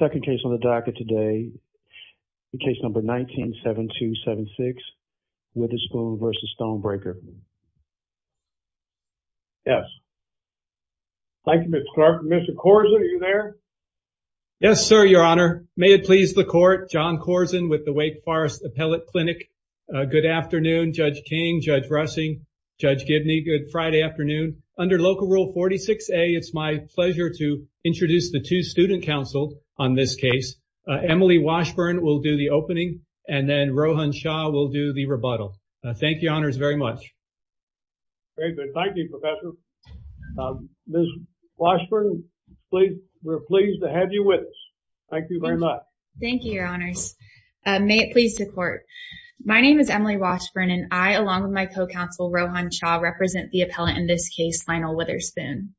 Second case on the docket today, case number 19-7276 Witherspoon v. Stonebreaker. Yes. Thank you, Mr. Clark. Mr. Korzen, are you there? Yes, sir, your honor. May it please the court, John Korzen with the Wake Forest Appellate Clinic. Good afternoon, Judge King, Judge Rushing, Judge Gibney. Good Friday afternoon. Under Local Rule 46A, it's my pleasure to introduce the two student counsel on this case. Emily Washburn will do the opening and then Rohan Shah will do the rebuttal. Thank you, honors, very much. Thank you, Professor. Ms. Washburn, we're pleased to have you with us. Thank you very much. Thank you, your honors. May it please the court. My name is Emily Washburn, and I, along with my co-counsel, Rohan Shah, represent the appellate in this case, Lionel Witherspoon.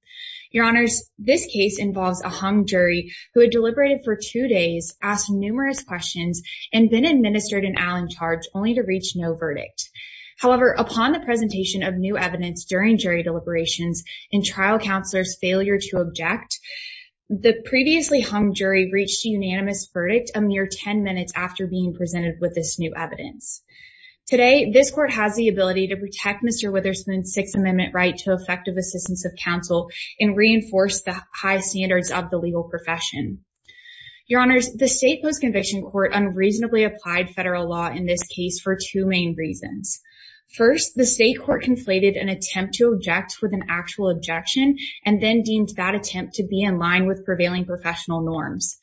Your honors, this case involves a hung jury who had deliberated for two days, asked numerous questions, and been administered an Allen charge only to reach no verdict. However, upon the presentation of new evidence during jury deliberations and trial counselors' failure to object, the previously hung jury reached a unanimous verdict a mere 10 minutes after being presented with this new evidence. Today, this court has the ability to protect Mr. Witherspoon's Sixth Amendment right to effective assistance of counsel and reinforce the high standards of the legal profession. Your honors, the state post-conviction court unreasonably applied federal law in this case for two main reasons. First, the state court conflated an attempt to object with an actual objection and then deemed that attempt to be in line with prevailing professional norms.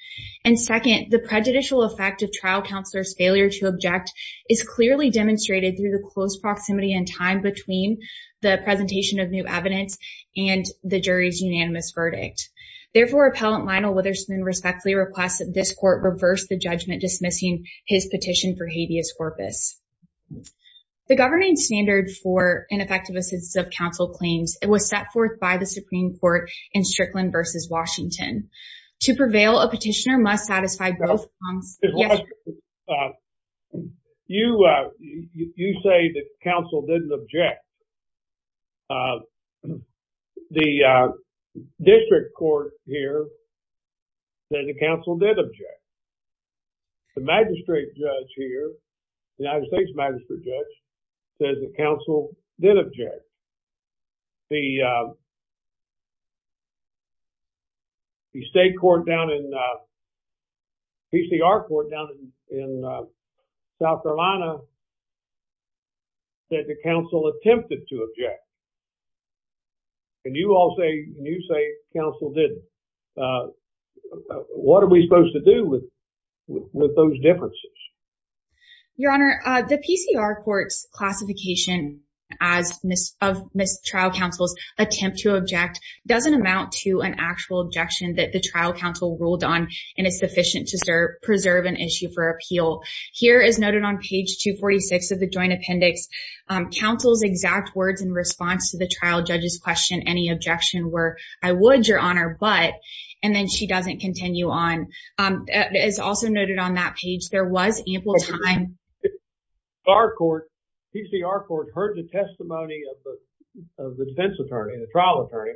And second, the prejudicial effect of trial counselors' failure to object is clearly demonstrated through the close proximity and time between the presentation of new evidence and the jury's unanimous verdict. Therefore, Appellant Lionel Witherspoon respectfully requests that this court reverse the judgment dismissing his petition for habeas corpus. The governing standard for ineffective assistance of counsel claims was set forth by the Supreme Court in Strickland v. Washington. To prevail, a petitioner must satisfy both… You say that counsel didn't object. The district court here says that counsel did object. The magistrate judge here, the United States magistrate judge, says that counsel did object. The state court down in… PCR court down in South Carolina said that counsel attempted to object. And you all say, and you say counsel didn't. What are we supposed to do with those differences? Your Honor, the PCR court's classification of mistrial counsel's attempt to object doesn't amount to an actual objection that the trial counsel ruled on and is sufficient to preserve an issue for appeal. Here as noted on page 246 of the joint appendix, counsel's exact words in response to the trial judge's question, any objection were, I would, Your Honor, but… And then she doesn't continue on. As also noted on that page, there was ample time… Our court, PCR court, heard the testimony of the defense attorney, the trial attorney,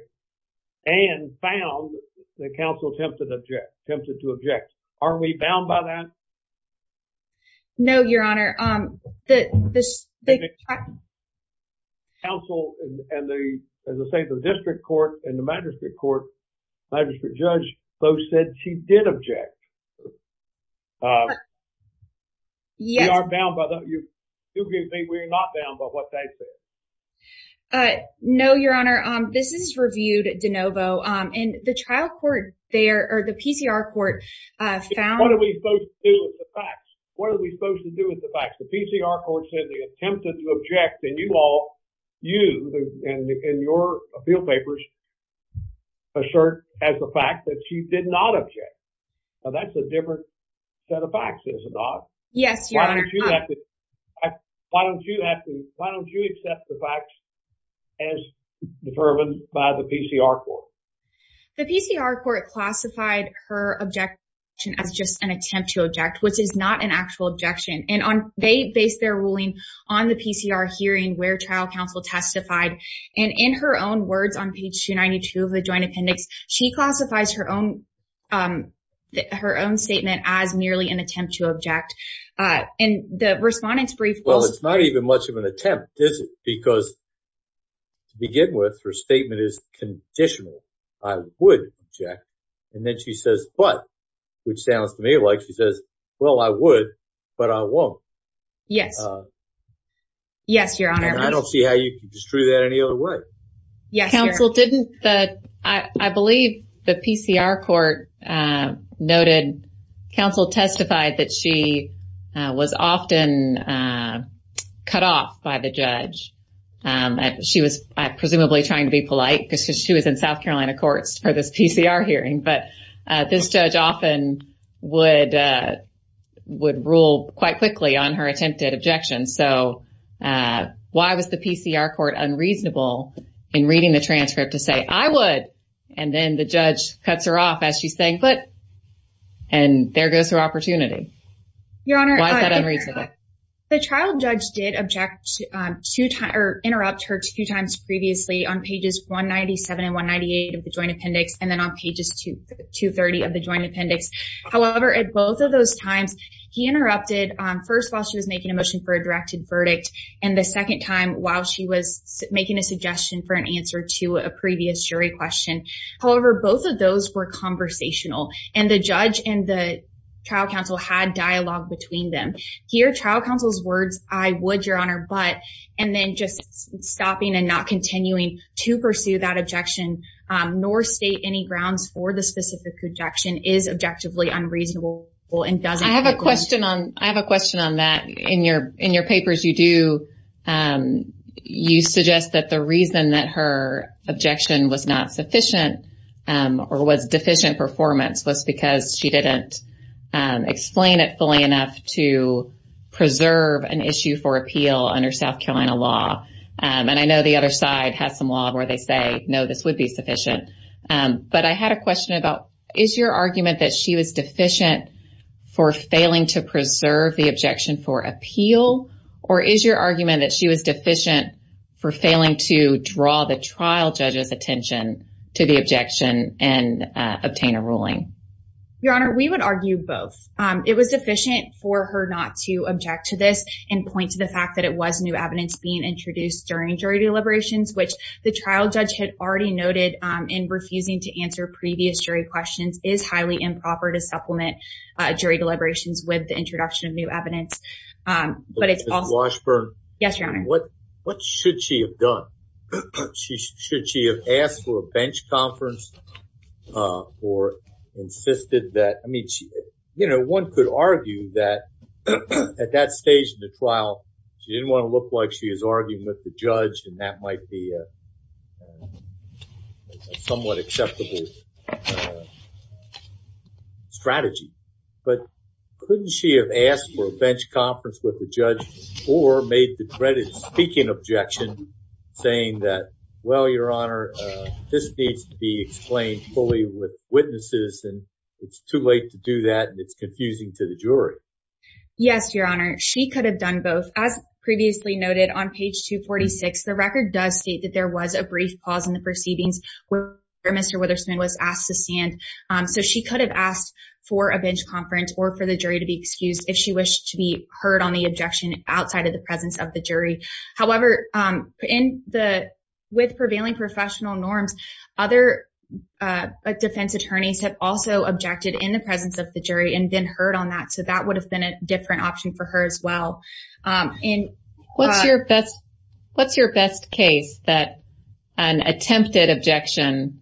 and found that counsel attempted to object. Aren't we bound by that? No, Your Honor. Counsel and the, as I say, the district court and the magistrate court, magistrate judge, both said she did object. We are bound by that. Do you agree with me we are not bound by what they said? No, Your Honor. This is reviewed de novo. And the trial court there, or the PCR court, found… What are we supposed to do with the facts? The PCR court said they attempted to object, and you all, you and your field papers assert as a fact that she did not object. Now, that's a different set of facts, is it not? Yes, Your Honor. Why don't you have to, why don't you accept the facts as determined by the PCR court? The PCR court classified her objection as just an attempt to object, which is not an actual objection. And they based their ruling on the PCR hearing where trial counsel testified. And in her own words on page 292 of the joint appendix, she classifies her own statement as merely an attempt to object. And the respondent's brief was… Well, it's not even much of an attempt, is it? Because to begin with, her statement is conditional. I would object. And then she says, but, which sounds to me like she says, well, I would, but I won't. Yes. Yes, Your Honor. I don't see how you can disprove that any other way. Yes, Your Honor. Counsel didn't, I believe the PCR court noted, counsel testified that she was often cut off by the judge. She was presumably trying to be polite because she was in South Carolina courts for this PCR hearing. But this judge often would, would rule quite quickly on her attempted objection. So why was the PCR court unreasonable in reading the transcript to say, I would. And then the judge cuts her off as she's saying, but, and there goes her opportunity. Your Honor. Why is that unreasonable? The trial judge did object to, or interrupt her two times previously on pages 197 and 198 of the joint appendix, and then on pages 230 of the joint appendix. However, at both of those times, he interrupted first while she was making a motion for a directed verdict, and the second time while she was making a suggestion for an answer to a previous jury question. However, both of those were conversational. And the judge and the trial counsel had dialogue between them. Here, trial counsel's words, I would, Your Honor, but, and then just stopping and not continuing to pursue that objection, nor state any grounds for the specific objection is objectively unreasonable. I have a question on that. In your papers you do, you suggest that the reason that her objection was not sufficient or was deficient performance was because she didn't explain it fully enough to preserve an issue for appeal under South Carolina law. And I know the other side has some law where they say, no, this would be sufficient. But I had a question about, is your argument that she was deficient for failing to preserve the objection for appeal? Or is your argument that she was deficient for failing to draw the trial judge's attention to the objection and obtain a ruling? Your Honor, we would argue both. It was deficient for her not to object to this and point to the fact that it was new evidence being introduced during jury deliberations, which the trial judge had already noted in refusing to answer previous jury questions is highly improper to supplement jury deliberations with the introduction of new evidence. Ms. Washburn. Yes, Your Honor. What should she have done? Should she have asked for a bench conference or insisted that, I mean, you know, one could argue that at that stage in the trial, she didn't want to look like she was arguing with the judge and that might be a somewhat acceptable strategy. But couldn't she have asked for a bench conference with the judge or made the dreaded speaking objection saying that, well, Your Honor, this needs to be explained fully with witnesses and it's too late to do that. It's confusing to the jury. Yes, Your Honor. She could have done both. As previously noted on page 246, the record does state that there was a brief pause in the proceedings where Mr. Witherspoon was asked to stand. So she could have asked for a bench conference or for the jury to be excused if she wished to be heard on the objection outside of the presence of the jury. However, with prevailing professional norms, other defense attorneys have also objected in the presence of the jury and been heard on that. So that would have been a different option for her as well. What's your best what's your best case that an attempted objection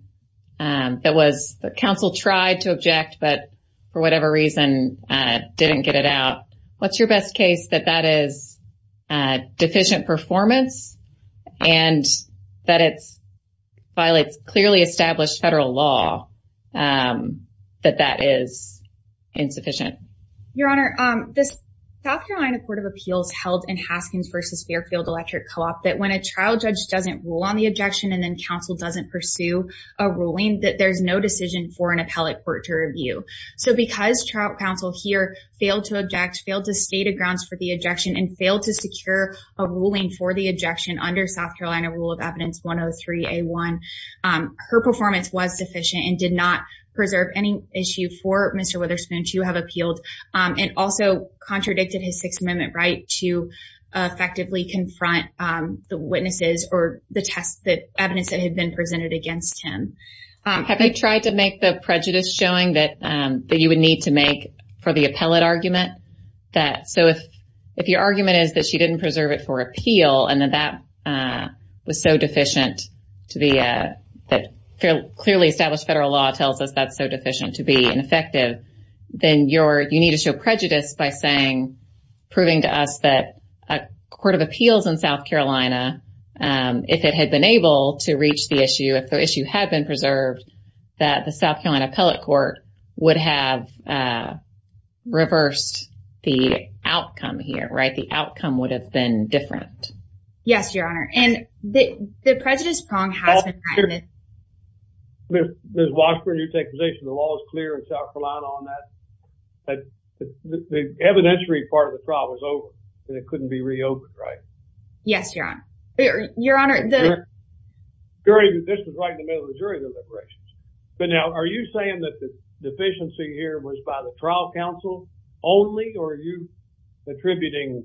that was the council tried to object, but for whatever reason, didn't get it out? What's your best case that that is deficient performance and that it's violates clearly established federal law that that is insufficient? Your Honor, this South Carolina Court of Appeals held in Haskins versus Fairfield Electric Co-op, that when a trial judge doesn't rule on the objection and then counsel doesn't pursue a ruling that there's no decision for an appellate court to review. So because trial counsel here failed to object, failed to state a grounds for the objection and failed to secure a ruling for the objection under South Carolina rule of evidence, her performance was sufficient and did not preserve any issue for Mr. Witherspoon to have appealed. And also contradicted his Sixth Amendment right to effectively confront the witnesses or the test that evidence that had been presented against him. Have you tried to make the prejudice showing that that you would need to make for the appellate argument? So if your argument is that she didn't preserve it for appeal, and then that was so deficient to be that clearly established federal law tells us that's so deficient to be ineffective, then you need to show prejudice by saying, proving to us that a court of appeals in South Carolina, if it had been able to reach the issue, if the issue had been preserved, that the South Carolina appellate court would have reversed the outcome here, right? The outcome would have been different. Yes, Your Honor. And the prejudice prong has been. Ms. Washburn, you take position. The law is clear in South Carolina on that. The evidentiary part of the trial was over and it couldn't be reopened, right? Yes, Your Honor. Your Honor, the. This was right in the middle of the jury deliberations. But now, are you saying that the deficiency here was by the trial counsel only, or are you attributing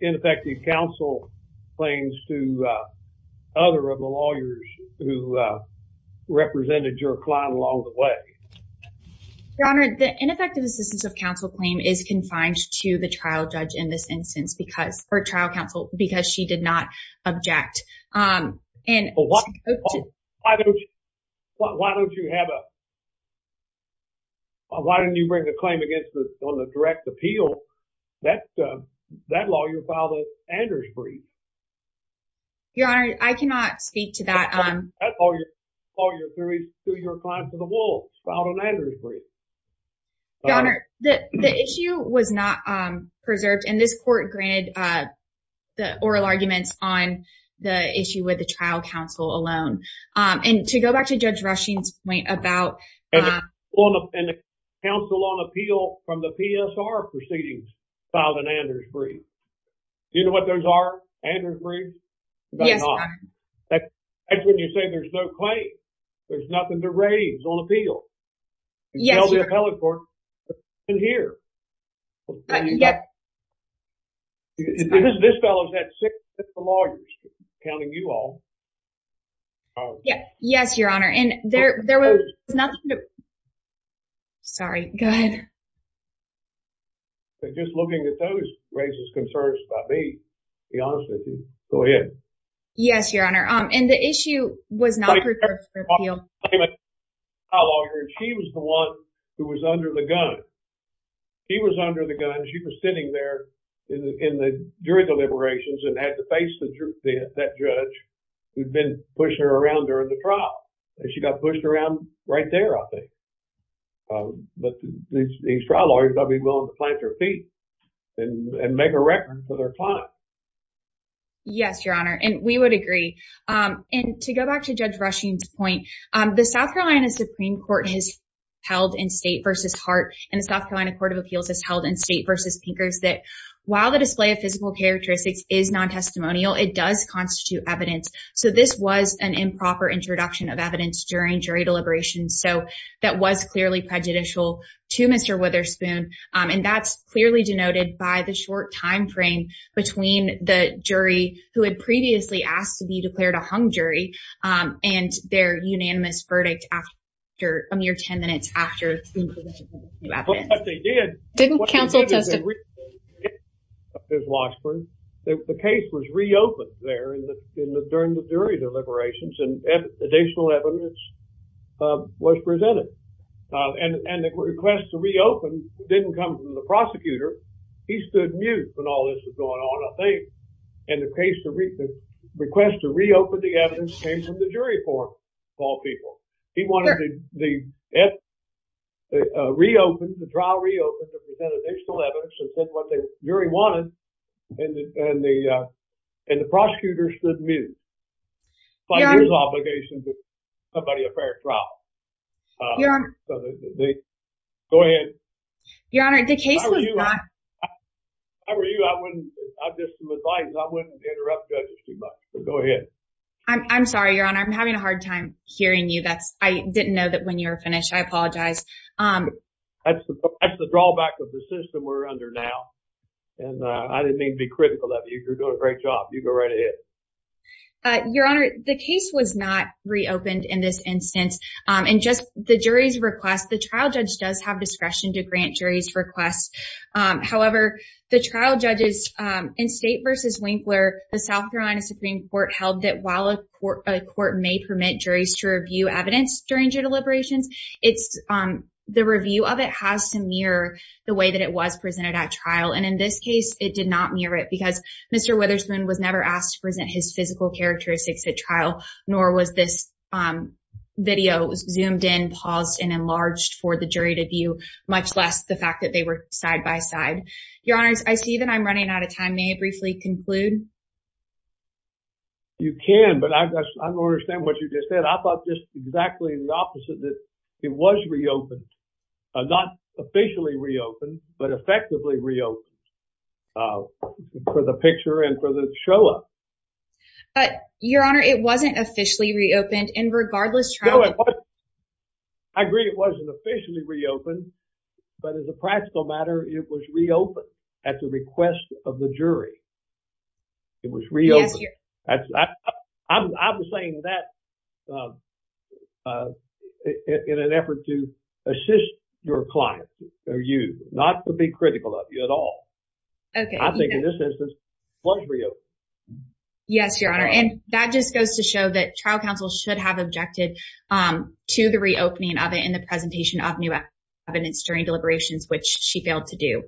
ineffective counsel claims to other of the lawyers who represented your client along the way? Your Honor, the ineffective assistance of counsel claim is confined to the trial judge in this instance, or trial counsel, because she did not object. Why don't you have a. Why didn't you bring a claim on the direct appeal? That lawyer filed an Andrews brief. Your Honor, I cannot speak to that. That lawyer filed an Andrews brief. Your Honor, the issue was not preserved. And this court granted the oral arguments on the issue with the trial counsel alone. And to go back to Judge Rushing's point about. And the counsel on appeal from the PSR proceedings filed an Andrews brief. Do you know what those are, Andrews brief? Yes, Your Honor. That's when you say there's no claim. There's nothing to raise on appeal. Yes, Your Honor. You held the appellate court in here. Yes. This fellow's had six lawyers, counting you all. Yes, Your Honor. And there was nothing to. Sorry, go ahead. Just looking at those raises concerns about me, to be honest with you. Go ahead. Yes, Your Honor. And the issue was not preserved for appeal. She was the one who was under the gun. She was under the gun. She was sitting there during the deliberations and had to face that judge who had been pushing her around during the trial. And she got pushed around right there, I think. But these trial lawyers ought to be willing to plant their feet and make a record for their time. Yes, Your Honor. And we would agree. And to go back to Judge Rushing's point, the South Carolina Supreme Court has held in State v. Hart and the South Carolina Court of Appeals has held in State v. Pinkers that while the display of physical characteristics is non-testimonial, it does constitute evidence. So this was an improper introduction of evidence during jury deliberations. So that was clearly prejudicial to Mr. Witherspoon. And that's clearly denoted by the short time frame between the jury who had previously asked to be declared a hung jury and their unanimous verdict after a mere 10 minutes after the presentation. But what they did… Didn't counsel testify? …was that the case was reopened there during the jury deliberations and additional evidence was presented. And the request to reopen didn't come from the prosecutor. He stood mute when all this was going on, I think. And the request to reopen the evidence came from the jury for all people. He wanted the trial reopened to present additional evidence and present what the jury wanted. And the prosecutor stood mute by his obligation to provide a fair trial. Your Honor… Go ahead. Your Honor, the case was not… How are you? How are you? I wouldn't… Just some advice. I wouldn't interrupt judges too much. Go ahead. I'm sorry, Your Honor. I'm having a hard time hearing you. I didn't know that when you were finished. I apologize. That's the drawback of the system we're under now. And I didn't mean to be critical of you. You're doing a great job. You go right ahead. Your Honor, the case was not reopened in this instance. And just the jury's request, the trial judge does have discretion to grant jury's requests. However, the trial judges in State v. Winkler, the South Carolina Supreme Court held that while a court may permit juries to review evidence during judicial deliberations, the review of it has to mirror the way that it was presented at trial. And in this case, it did not mirror it because Mr. Witherspoon was never asked to present his physical characteristics at trial, nor was this video zoomed in, paused, and enlarged for the jury to view, much less the fact that they were side-by-side. Your Honor, I see that I'm running out of time. May I briefly conclude? You can, but I don't understand what you just said. I thought just exactly the opposite, that it was reopened. Not officially reopened, but effectively reopened for the picture and for the show-up. Your Honor, it wasn't officially reopened, and regardless trial- I agree it wasn't officially reopened, but as a practical matter, it was reopened at the request of the jury. It was reopened. I'm saying that in an effort to assist your client or you, not to be critical of you at all. I think in this instance, it was reopened. Yes, Your Honor. And that just goes to show that trial counsel should have objected to the reopening of it in the presentation of new evidence during deliberations, which she failed to do.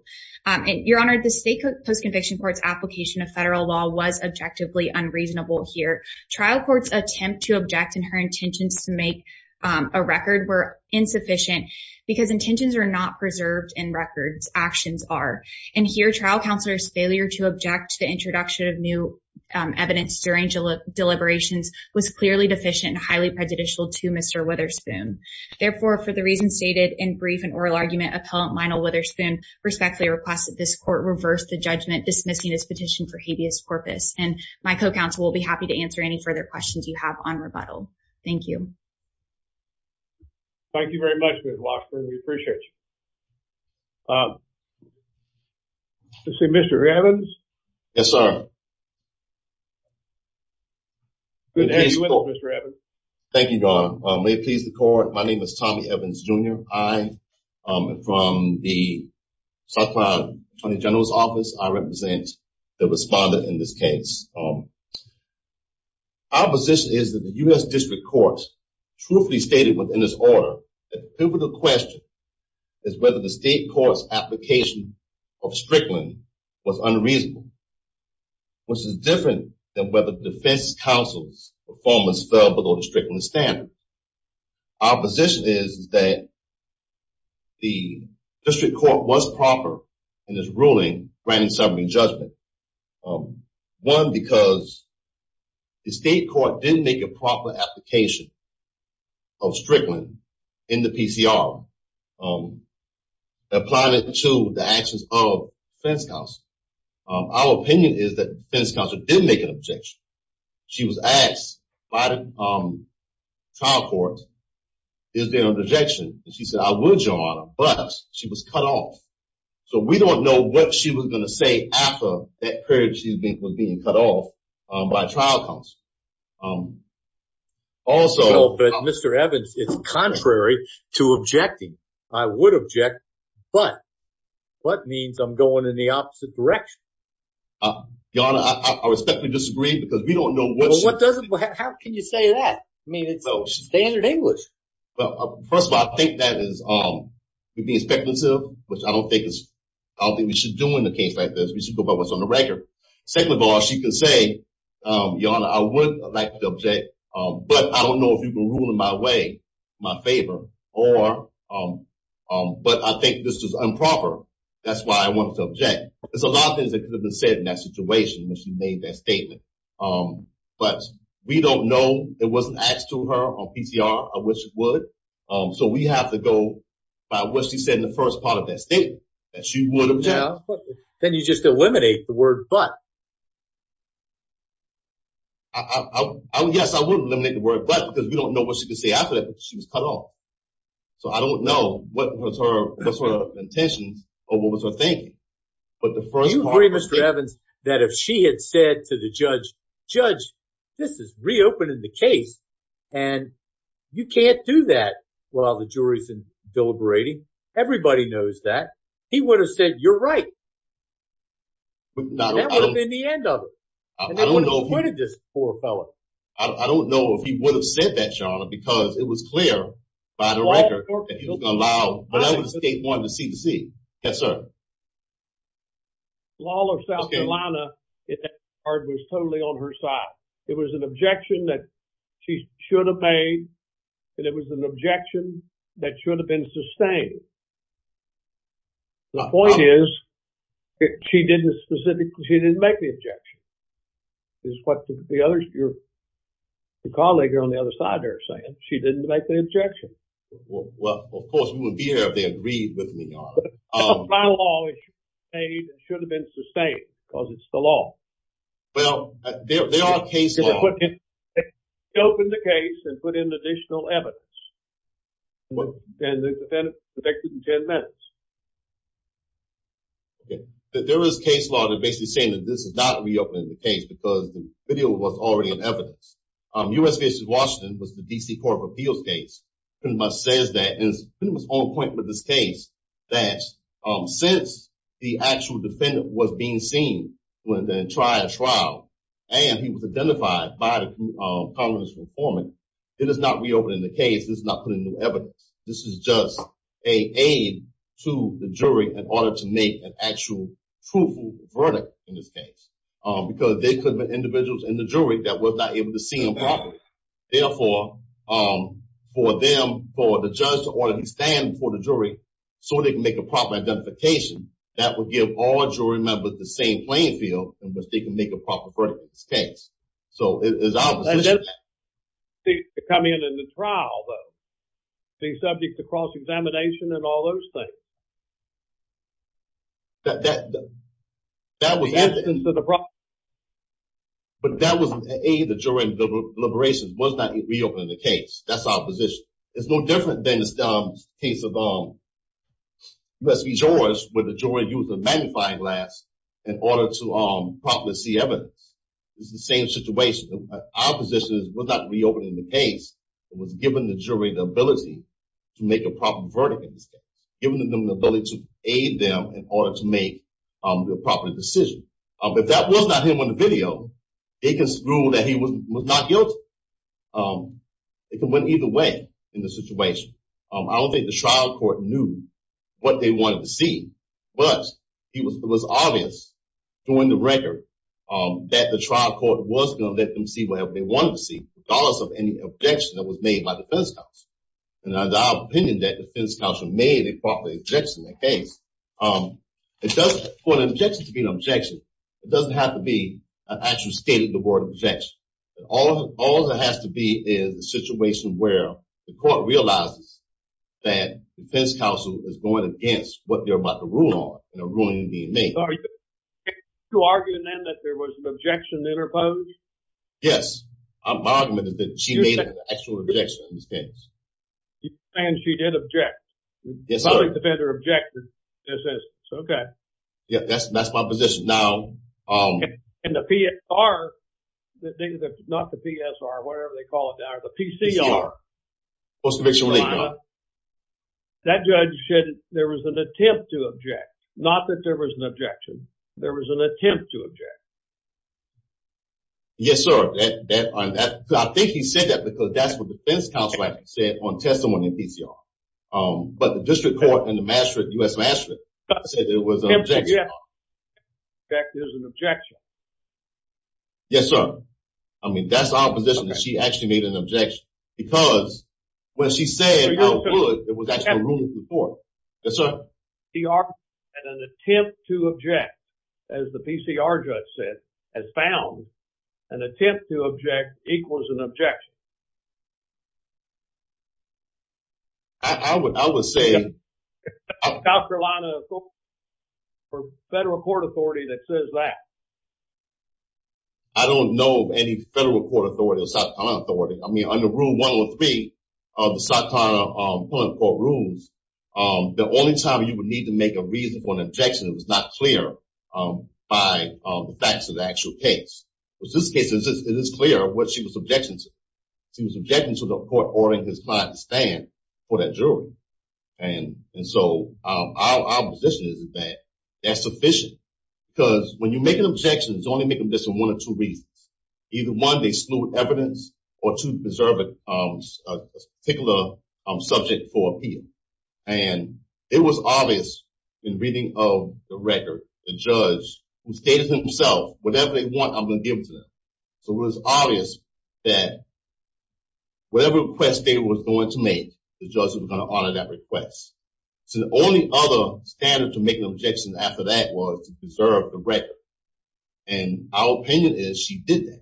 Your Honor, the state post-conviction court's application of federal law was objectively unreasonable here. Trial court's attempt to object in her intentions to make a record were insufficient because intentions are not preserved in records, actions are. And here, trial counselor's failure to object to the introduction of new evidence during deliberations was clearly deficient and highly prejudicial to Mr. Witherspoon. Therefore, for the reasons stated in brief and oral argument, Appellant Lionel Witherspoon respectfully requests that this court reverse the judgment dismissing this petition for habeas corpus. And my co-counsel will be happy to answer any further questions you have on rebuttal. Thank you. Thank you very much, Ms. Lockwood. We appreciate you. Mr. Evans? Yes, sir. Good day to you, Mr. Evans. Thank you, Your Honor. May it please the Court, my name is Tommy Evans, Jr. I am from the South Carolina Attorney General's Office. I represent the respondent in this case. Our position is that the U.S. District Court truthfully stated within its order that the pivotal question is whether the state court's application of Strickland was unreasonable, which is different than whether the defense counsel's performance fell below the Strickland standard. Our position is that the district court was proper in its ruling granting summary judgment. One, because the state court didn't make a proper application of Strickland in the PCR applying it to the actions of defense counsel. Our opinion is that defense counsel did make an objection. She was asked by the trial court, is there an objection? She said, I would, Your Honor, but she was cut off. So we don't know what she was going to say after that period she was being cut off by trial counsel. Also, Mr. Evans, it's contrary to objecting. I would object, but what means I'm going in the opposite direction. Your Honor, I respectfully disagree because we don't know what doesn't. How can you say that? I mean, it's standard English. Well, first of all, I think that is being speculative, which I don't think we should do in a case like this. We should go by what's on the record. Second of all, she can say, Your Honor, I would like to object. But I don't know if you can rule in my way, my favor, or, but I think this is improper. That's why I wanted to object. There's a lot of things that could have been said in that situation when she made that statement. But we don't know. It wasn't asked to her on PCR, which it would. So we have to go by what she said in the first part of that statement that she would object. Then you just eliminate the word but. Yes, I would eliminate the word but because we don't know what she could say after that because she was cut off. So I don't know what was her intentions or what was her thinking. Do you agree, Mr. Evans, that if she had said to the judge, Judge, this is reopening the case, and you can't do that while the jury's deliberating, everybody knows that, he would have said, You're right. That would have been the end of it. And that would have avoided this poor fellow. I don't know if he would have said that, Your Honor, because it was clear by the record that he was going to allow whatever the state wanted to see to see. Yes, sir. The law of South Carolina, it was totally on her side. It was an objection that she should have made, and it was an objection that should have been sustained. The point is, she didn't make the objection. It's what your colleague on the other side there is saying. She didn't make the objection. Well, of course, we wouldn't be here if they agreed with me, Your Honor. That's my law. It should have been sustained because it's the law. Well, they are case law. They reopened the case and put in additional evidence, and the defendant was convicted in 10 minutes. There is case law that basically is saying that this is not reopening the case because the video was already in evidence. U.S. v. Washington was the D.C. Court of Appeals case. It pretty much says that, and it was on point with this case, that since the actual defendant was being seen to try a trial, and he was identified by the colonel's informant, it is not reopening the case. This is not putting new evidence. This is just an aid to the jury in order to make an actual truthful verdict in this case because there could have been individuals in the jury that were not able to see him properly. Therefore, for them, for the judge to order him to stand before the jury so they can make a proper identification, that would give all jury members the same playing field in which they can make a proper verdict in this case. So, it's our position. They come in in the trial, though. They're subject to cross-examination and all those things. But that was an aid to jury deliberations. It was not reopening the case. That's our position. It's no different than the case of U.S. v. George where the jury used a magnifying glass in order to properly see evidence. It's the same situation. Our position is it was not reopening the case. It was giving the jury the ability to make a proper verdict in this case, giving them the ability to aid them in order to make a proper decision. If that was not him on the video, they can rule that he was not guilty. It went either way in this situation. I don't think the trial court knew what they wanted to see. But it was obvious during the record that the trial court was going to let them see whatever they wanted to see, regardless of any objection that was made by the defense counsel. And it's our opinion that the defense counsel made a proper objection to the case. For an objection to be an objection, it doesn't have to be an actual state of the word objection. All it has to be is a situation where the court realizes that the defense counsel is going against what they're about to rule on, a ruling being made. Are you arguing then that there was an objection interposed? Yes. My argument is that she made an actual objection in this case. And she did object. Yes, I did. The public defender objected and says, okay. Yes, that's my position. And the PSR, not the PSR, whatever they call it now, the PCR, Post-Conviction Relief Act, that judge said there was an attempt to object. Not that there was an objection. There was an attempt to object. Yes, sir. I think he said that because that's what the defense counsel actually said on testimony in PCR. An attempt to object is an objection. Yes, sir. I mean, that's our position, that she actually made an objection. Because when she said, I would, it was actually a ruling before. Yes, sir. An attempt to object, as the PCR judge said, has found an attempt to object equals an objection. I would say. South Carolina, federal court authority that says that. I don't know of any federal court authority or South Carolina authority. I mean, under Rule 103 of the South Carolina Pulling Court Rules, the only time you would need to make a reason for an objection that was not clear by the facts of the actual case. In this case, it is clear what she was objecting to. She was objecting to the court ordering his client to stand for that jury. And so our position is that that's sufficient. Because when you make an objection, it's only making this for one or two reasons. Either one, they exclude evidence, or two, preserve a particular subject for appeal. And it was obvious in reading of the record, the judge who stated himself, whatever they want, I'm going to give it to them. So it was obvious that whatever request they were going to make, the judge was going to honor that request. So the only other standard to make an objection after that was to preserve the record. And our opinion is she did that.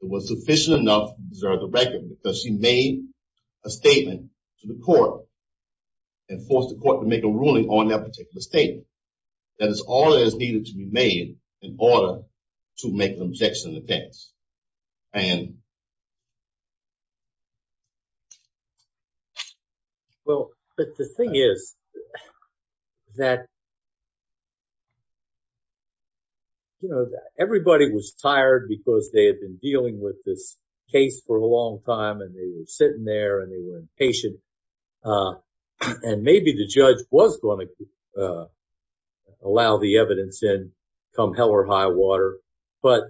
It was sufficient enough to preserve the record because she made a statement to the court and forced the court to make a ruling on that particular statement. That is all that is needed to be made in order to make an objection against. Well, but the thing is that, you know, everybody was tired because they had been dealing with this case for a long time. And they were sitting there and they were impatient. And maybe the judge was going to allow the evidence in come hell or high water. But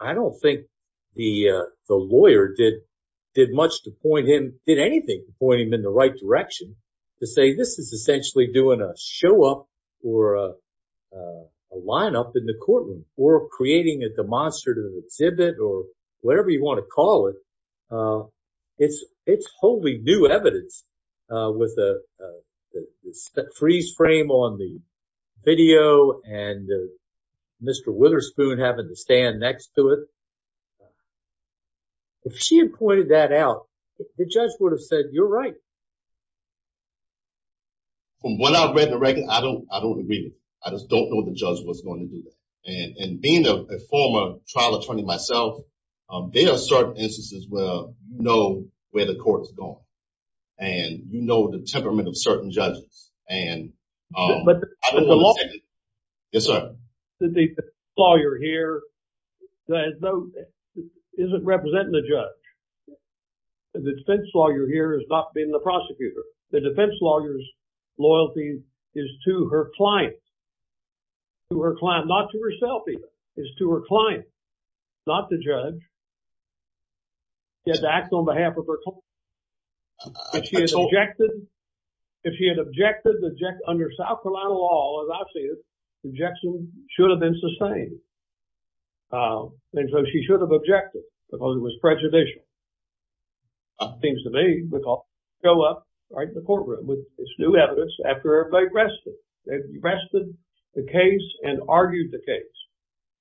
I don't think the lawyer did much to point him, did anything to point him in the right direction to say this is essentially doing a show up or a lineup in the courtroom or creating a demonstrative exhibit or whatever you want to call it. It's wholly new evidence with a freeze frame on the video and Mr. Witherspoon having to stand next to it. If she had pointed that out, the judge would have said, you're right. From what I've read in the record, I don't agree with it. I just don't know what the judge was going to do. And being a former trial attorney myself, there are certain instances where you know where the court is going. And you know the temperament of certain judges. And I don't want to say that the lawyer here isn't representing the judge. The defense lawyer here is not being the prosecutor. The defense lawyer's loyalty is to her client. To her client, not to herself even. It's to her client, not the judge. She has to act on behalf of her client. If she had objected under South Carolina law, as I see it, the objection should have been sustained. And so she should have objected because it was prejudicial. It seems to me, we go up right in the courtroom with this new evidence after everybody rested. They rested the case and argued the case.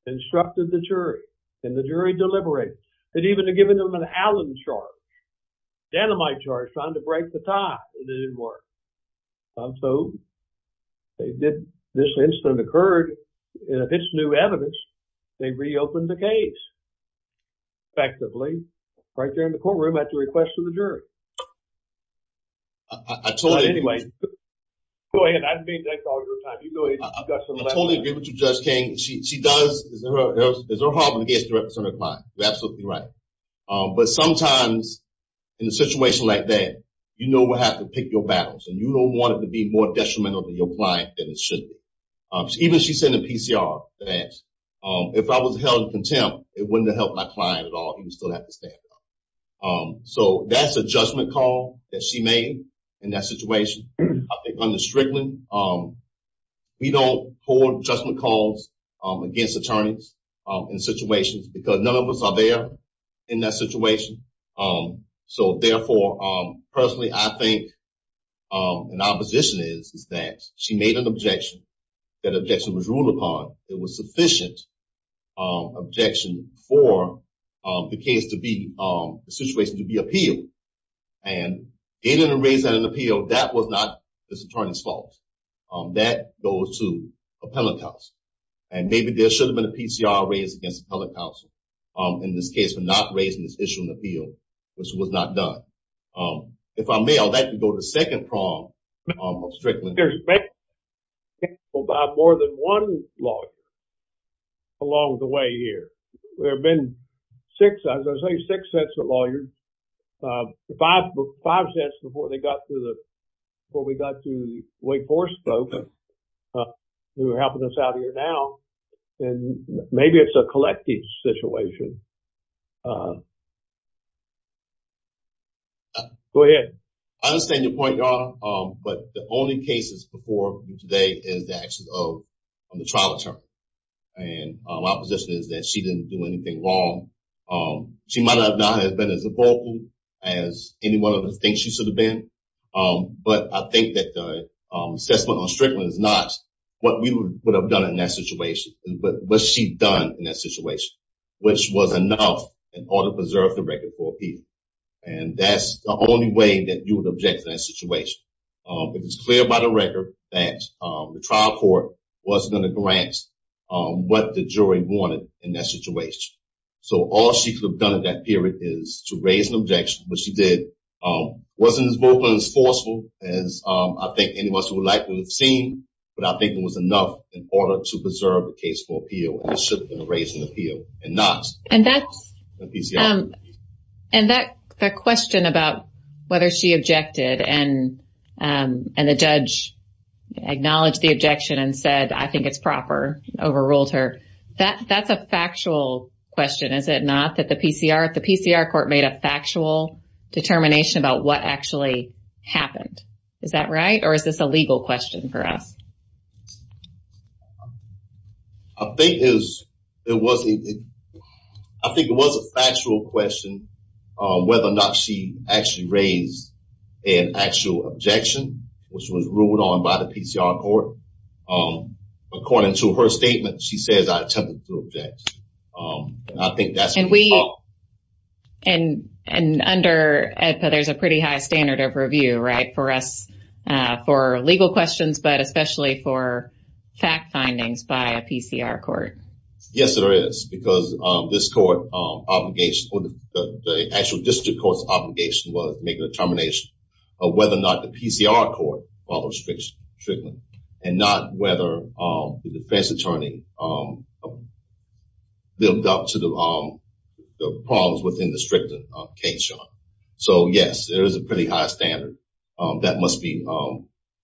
Instructed the jury. And the jury deliberated. And even given them an Allen charge. Danamite charge, trying to break the tie. And it didn't work. So this incident occurred. And if it's new evidence, they reopened the case. Effectively. Right there in the courtroom at the request of the jury. But anyway, go ahead. I didn't mean to take all your time. I totally agree with you, Judge King. She does. It's her job to represent her client. You're absolutely right. But sometimes in a situation like that, you know we'll have to pick your battles. And you don't want it to be more detrimental to your client than it should be. Even she said in the PCR that if I was held in contempt, it wouldn't have helped my client at all. He would still have to stand trial. So that's a judgment call that she made in that situation. I think under Strickland, we don't hold judgment calls against attorneys in situations. Because none of us are there in that situation. So therefore, personally, I think our position is that she made an objection. That objection was ruled upon. It was sufficient objection for the case to be, the situation to be appealed. And they didn't raise that in the appeal. That was not this attorney's fault. That goes to appellate counsel. And maybe there should have been a PCR raised against appellate counsel in this case for not raising this issue in the appeal, which was not done. If I may, I'd like to go to the second prong of Strickland. I think there's been more than one lawyer along the way here. There have been six. I was going to say six sets of lawyers. Five sets before they got to the, before we got to Wake Forest. They were helping us out here now. And maybe it's a collective situation. Go ahead. I understand your point, Your Honor. But the only cases before you today is the actions of the trial attorney. And my position is that she didn't do anything wrong. She might not have been as vocal as any one of us thinks she should have been. But I think that the assessment on Strickland is not what we would have done in that situation, but what she'd done in that situation, which was enough in order to preserve the record for appeal. And that's the only way that you would object to that situation. It was clear by the record that the trial court wasn't going to grant what the jury wanted in that situation. So all she could have done in that period is to raise an objection, which she did. It wasn't as vocal and as forceful as I think any of us would like to have seen, but I think it was enough in order to preserve the case for appeal. And that's the question about whether she objected, and the judge acknowledged the objection and said, I think it's proper, overruled her. That's a factual question, is it not, that the PCR court made a factual determination about what actually happened. Is that right, or is this a legal question for us? I think it was a factual question whether or not she actually raised an actual objection, which was ruled on by the PCR court. According to her statement, she says I attempted to object. And I think that's what we saw. And under AEDPA, there's a pretty high standard of review, right, for us, for legal questions, but especially for fact findings by a PCR court. Yes, there is, because this court obligation, the actual district court's obligation, was to make a determination of whether or not the PCR court followed strict treatment, and not whether the defense attorney lived up to the problems within the stricter case. So, yes, there is a pretty high standard that must be,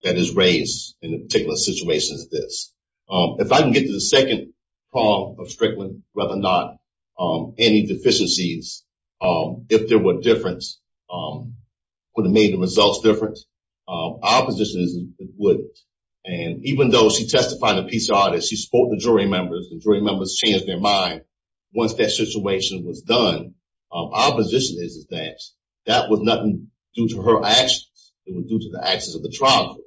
that is raised in a particular situation as this. If I can get to the second problem of strict treatment, whether or not any deficiencies, if there were a difference, would it have made the results different? Our position is it wouldn't. And even though she testified to PCR, she spoke to jury members, and jury members changed their mind. Once that situation was done, our position is that that was nothing due to her actions. It was due to the actions of the trial court.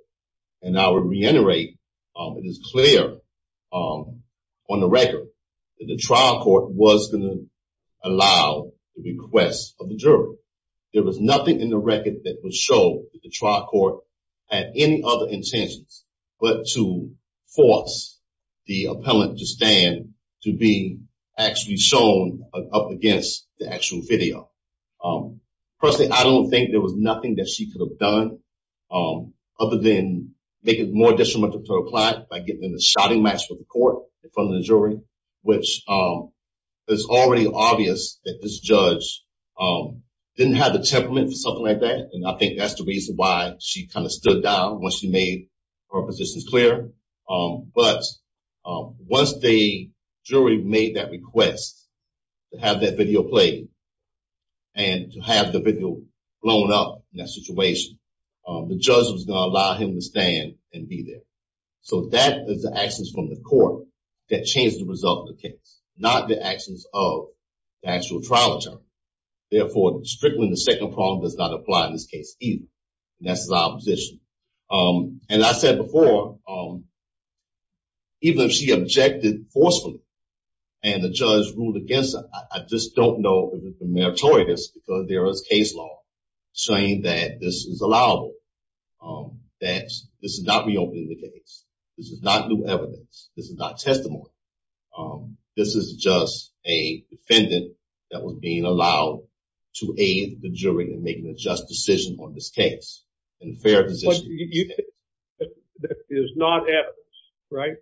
And I would reiterate, it is clear on the record that the trial court was going to allow the request of the jury. There was nothing in the record that would show that the trial court had any other intentions but to force the appellant to stand, to be actually shown up against the actual video. Personally, I don't think there was nothing that she could have done other than make it more detrimental to her client by getting in a shouting match with the court in front of the jury, which is already obvious that this judge didn't have the temperament for something like that, and I think that's the reason why she kind of stood down once she made her positions clear. But once the jury made that request to have that video played and to have the video blown up in that situation, the judge was going to allow him to stand and be there. So that is the actions from the court that changed the result of the case, not the actions of the actual trial attorney. Therefore, strictly the second problem does not apply in this case either, and that's the opposition. And I said before, even if she objected forcefully and the judge ruled against her, I just don't know if it's a meritorious because there is case law saying that this is allowable, that this is not reopening the case. This is not new evidence. This is not testimony. This is just a defendant that was being allowed to aid the jury in making a just decision on this case and a fair decision. That is not evidence, right?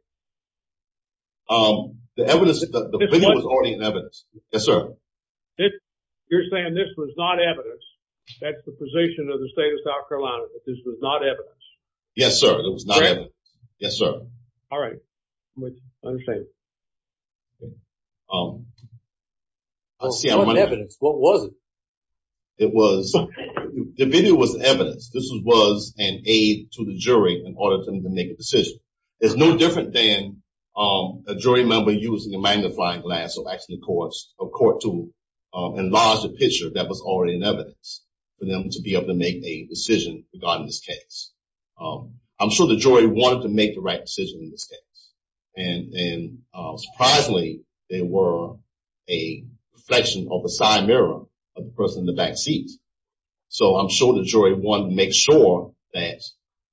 The evidence, the video was already in evidence. Yes, sir. You're saying this was not evidence. That's the position of the state of South Carolina, that this was not evidence. Yes, sir. It was not evidence. Yes, sir. All right. I understand. What evidence? What was it? It was, the video was evidence. This was an aid to the jury in order to make a decision. It's no different than a jury member using a magnifying glass or actually a court to enlarge the picture that was already in evidence for them to be able to make a decision regarding this case. I'm sure the jury wanted to make the right decision in this case. And surprisingly, there were a reflection of a side mirror of the person in the back seat. So I'm sure the jury wanted to make sure that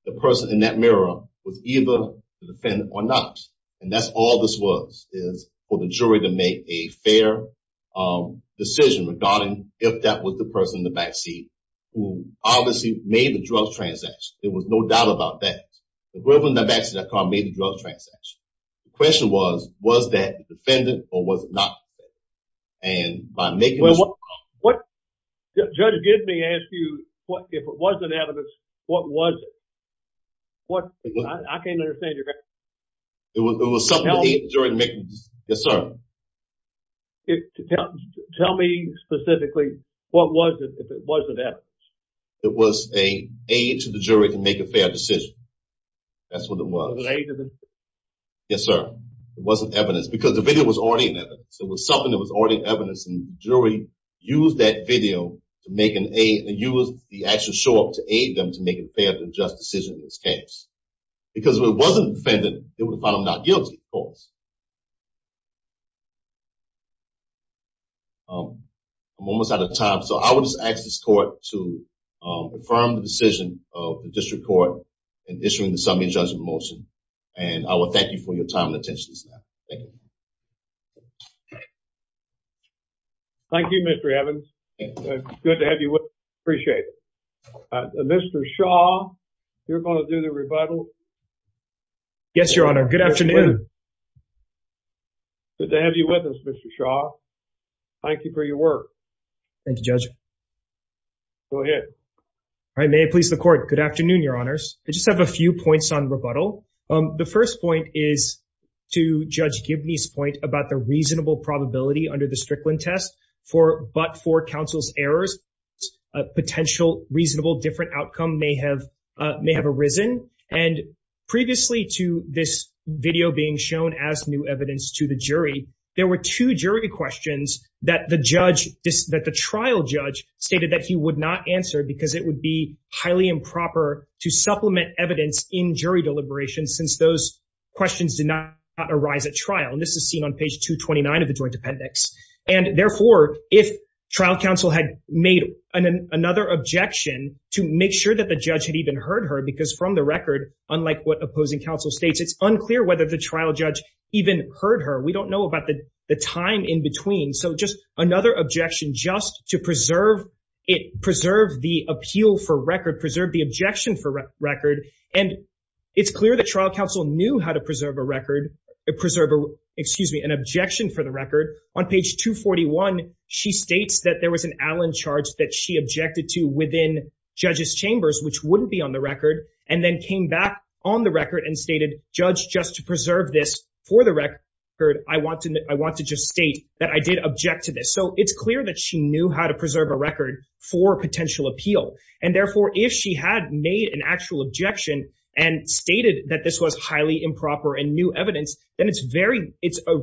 the person in that mirror was either the defendant or not. And that's all this was, is for the jury to make a fair decision regarding if that was the person in the back seat who obviously made the drug transaction. There was no doubt about that. The person in the back seat made the drug transaction. The question was, was that the defendant or was it not? And by making this... Judge Gidney asked you, if it wasn't evidence, what was it? I can't understand your question. It was something to aid the jury in making the decision. Yes, sir. Tell me specifically, what was it if it wasn't evidence? It was an aid to the jury to make a fair decision. That's what it was. It was an aid to the jury. Yes, sir. It wasn't evidence. Because the video was already in evidence. It was something that was already in evidence. And the jury used that video to make an aid and used the actual show-up to aid them to make a fair and just decision in this case. Because if it wasn't the defendant, they would have found him not guilty, of course. I'm almost out of time. So I will just ask this court to confirm the decision of the district court in issuing the summary judgment motion. And I will thank you for your time and attention, sir. Thank you. Thank you, Mr. Evans. Good to have you with us. Appreciate it. Mr. Shaw, you're going to do the rebuttal? Yes, Your Honor. Good afternoon. Good to have you with us, Mr. Shaw. Thank you for your work. Thank you, Judge. Go ahead. All right. May it please the court. Good afternoon, Your Honors. I just have a few points on rebuttal. The first point is to Judge Gibney's point about the reasonable probability under the Strickland test, but for counsel's errors, a potential reasonable different outcome may have arisen. And previously to this video being shown as new evidence to the jury, there were two jury questions that the trial judge stated that he would not answer because it would be highly improper to supplement evidence in jury deliberations since those questions did not arise at trial. And this is seen on page 229 of the joint appendix. And, therefore, if trial counsel had made another objection to make sure that the judge had even heard her because from the record, unlike what opposing counsel states, it's unclear whether the trial judge even heard her. We don't know about the time in between. So just another objection just to preserve it, preserve the appeal for record, preserve the objection for record. And it's clear that trial counsel knew how to preserve a record, preserve an objection for the record. On page 241, she states that there was an Allen charge that she objected to within judges' chambers, which wouldn't be on the record, and then came back on the record and stated, judge, just to preserve this for the record, I want to just state that I did object to this. So it's clear that she knew how to preserve a record for potential appeal. And, therefore, if she had made an actual objection and stated that this was highly improper and new evidence, then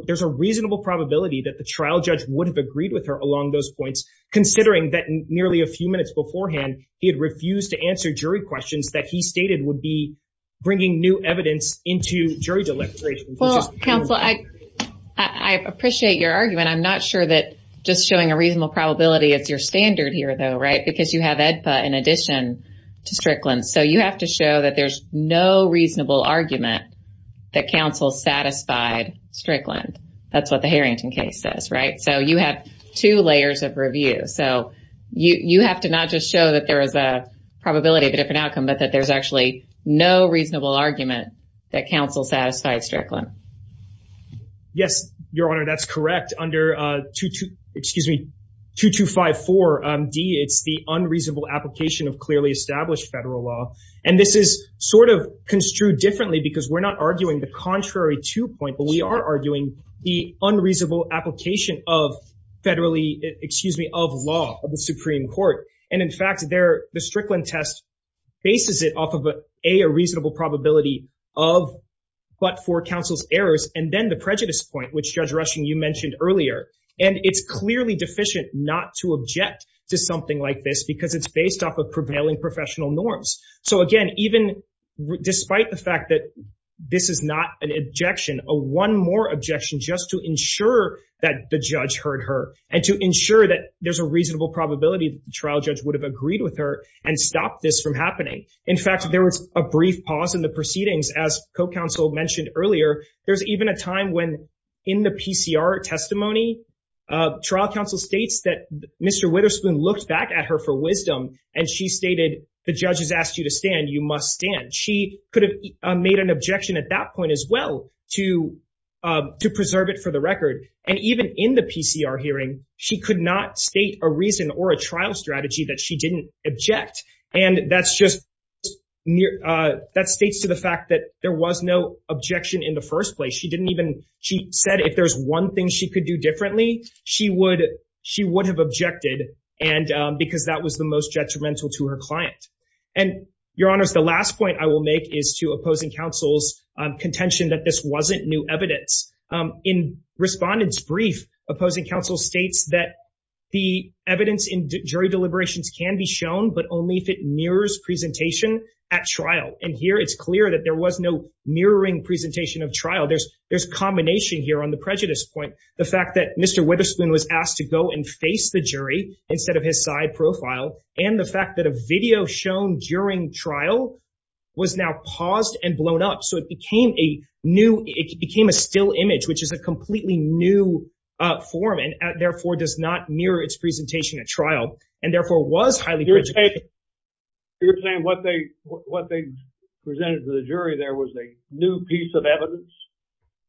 there's a reasonable probability that the trial judge would have agreed with her along those points, considering that nearly a few minutes beforehand, he had refused to answer jury questions that he stated would be bringing new evidence into jury deliberations. Well, counsel, I appreciate your argument. I'm not sure that just showing a reasonable probability is your standard here, though, right? Because you have EDPA in addition to Strickland. So you have to show that there's no reasonable argument that counsel satisfied Strickland. That's what the Harrington case says, right? So you have two layers of review. So you have to not just show that there is a probability of a different outcome, but that there's actually no reasonable argument that counsel satisfied Strickland. Yes, Your Honor, that's correct. Excuse me, 2254D, it's the unreasonable application of clearly established federal law. And this is sort of construed differently because we're not arguing the contrary two point, but we are arguing the unreasonable application of federally, excuse me, of law of the Supreme Court. And in fact, the Strickland test bases it off of a reasonable probability of but for counsel's errors. And then the prejudice point, which Judge Rushing, you mentioned earlier. And it's clearly deficient not to object to something like this because it's based off of prevailing professional norms. So, again, even despite the fact that this is not an objection, a one more objection just to ensure that the judge heard her and to ensure that there's a reasonable probability trial judge would have agreed with her and stop this from happening. In fact, there was a brief pause in the proceedings. As co-counsel mentioned earlier, there's even a time when in the PCR testimony, trial counsel states that Mr. Witherspoon looked back at her for wisdom and she stated, the judge has asked you to stand. You must stand. She could have made an objection at that point as well to preserve it for the record. And even in the PCR hearing, she could not state a reason or a trial strategy that she didn't object. And that's just near that states to the fact that there was no objection in the first place. She didn't even she said if there's one thing she could do differently, she would she would have objected. And because that was the most detrimental to her client and your honors, the last point I will make is to opposing counsel's contention that this wasn't new evidence. In respondents brief, opposing counsel states that the evidence in jury deliberations can be shown, but only if it mirrors presentation at trial. And here it's clear that there was no mirroring presentation of trial. There's there's combination here on the prejudice point. The fact that Mr. Witherspoon was asked to go and face the jury instead of his side profile and the fact that a video shown during trial was now paused and blown up. So it became a new it became a still image, which is a completely new form and therefore does not mirror its presentation at trial and therefore was highly. You're saying what they what they presented to the jury, there was a new piece of evidence.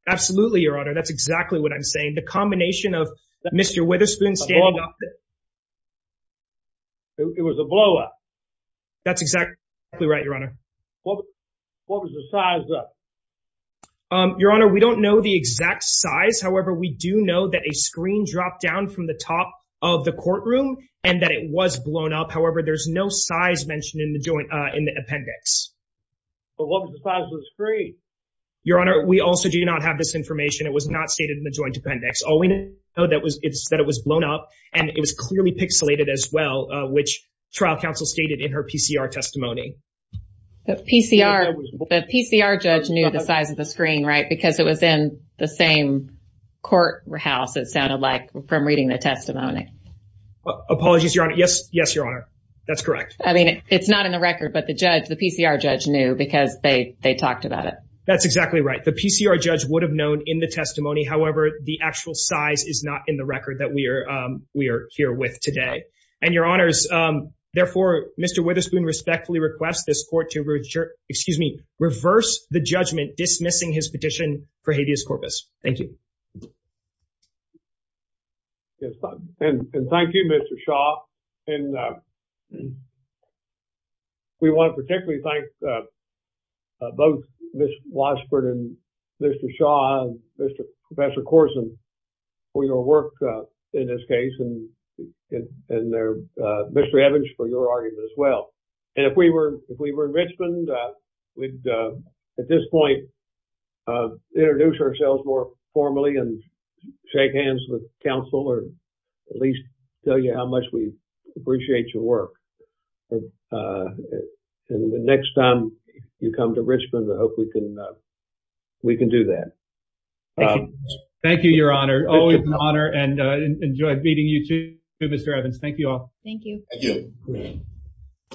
Absolutely, your honor. That's exactly what I'm saying. The combination of Mr. Witherspoon. It was a blow up. That's exactly right, your honor. What was the size? Your honor, we don't know the exact size. However, we do know that a screen dropped down from the top of the courtroom and that it was blown up. However, there's no size mentioned in the joint in the appendix. What was the size of the screen? Your honor, we also do not have this information. It was not stated in the joint appendix. All we know that was it's that it was blown up and it was clearly pixelated as well, which trial counsel stated in her PCR testimony. The PCR, the PCR judge knew the size of the screen, right? Because it was in the same courthouse. It sounded like from reading the testimony. Apologies, your honor. Yes, yes, your honor. That's correct. I mean, it's not in the record, but the judge, the PCR judge knew because they they talked about it. That's exactly right. The PCR judge would have known in the testimony. However, the actual size is not in the record that we are. We are here with today and your honors. Therefore, Mr. Witherspoon respectfully request this court to reject. Excuse me. Reverse the judgment dismissing his petition for habeas corpus. Thank you. And thank you, Mr. Shaw. And we want to particularly thank both Ms. Washburn and Mr. Shaw, Mr. Professor Corson for your work in this case. And in there, Mr. Evans, for your argument as well. And if we were if we were in Richmond, we'd at this point introduce ourselves more formally and shake hands with counsel or at least tell you how much we appreciate your work. And the next time you come to Richmond, I hope we can we can do that. Thank you, your honor. Always an honor. And I enjoyed meeting you, too, Mr. Evans. Thank you all. Thank you.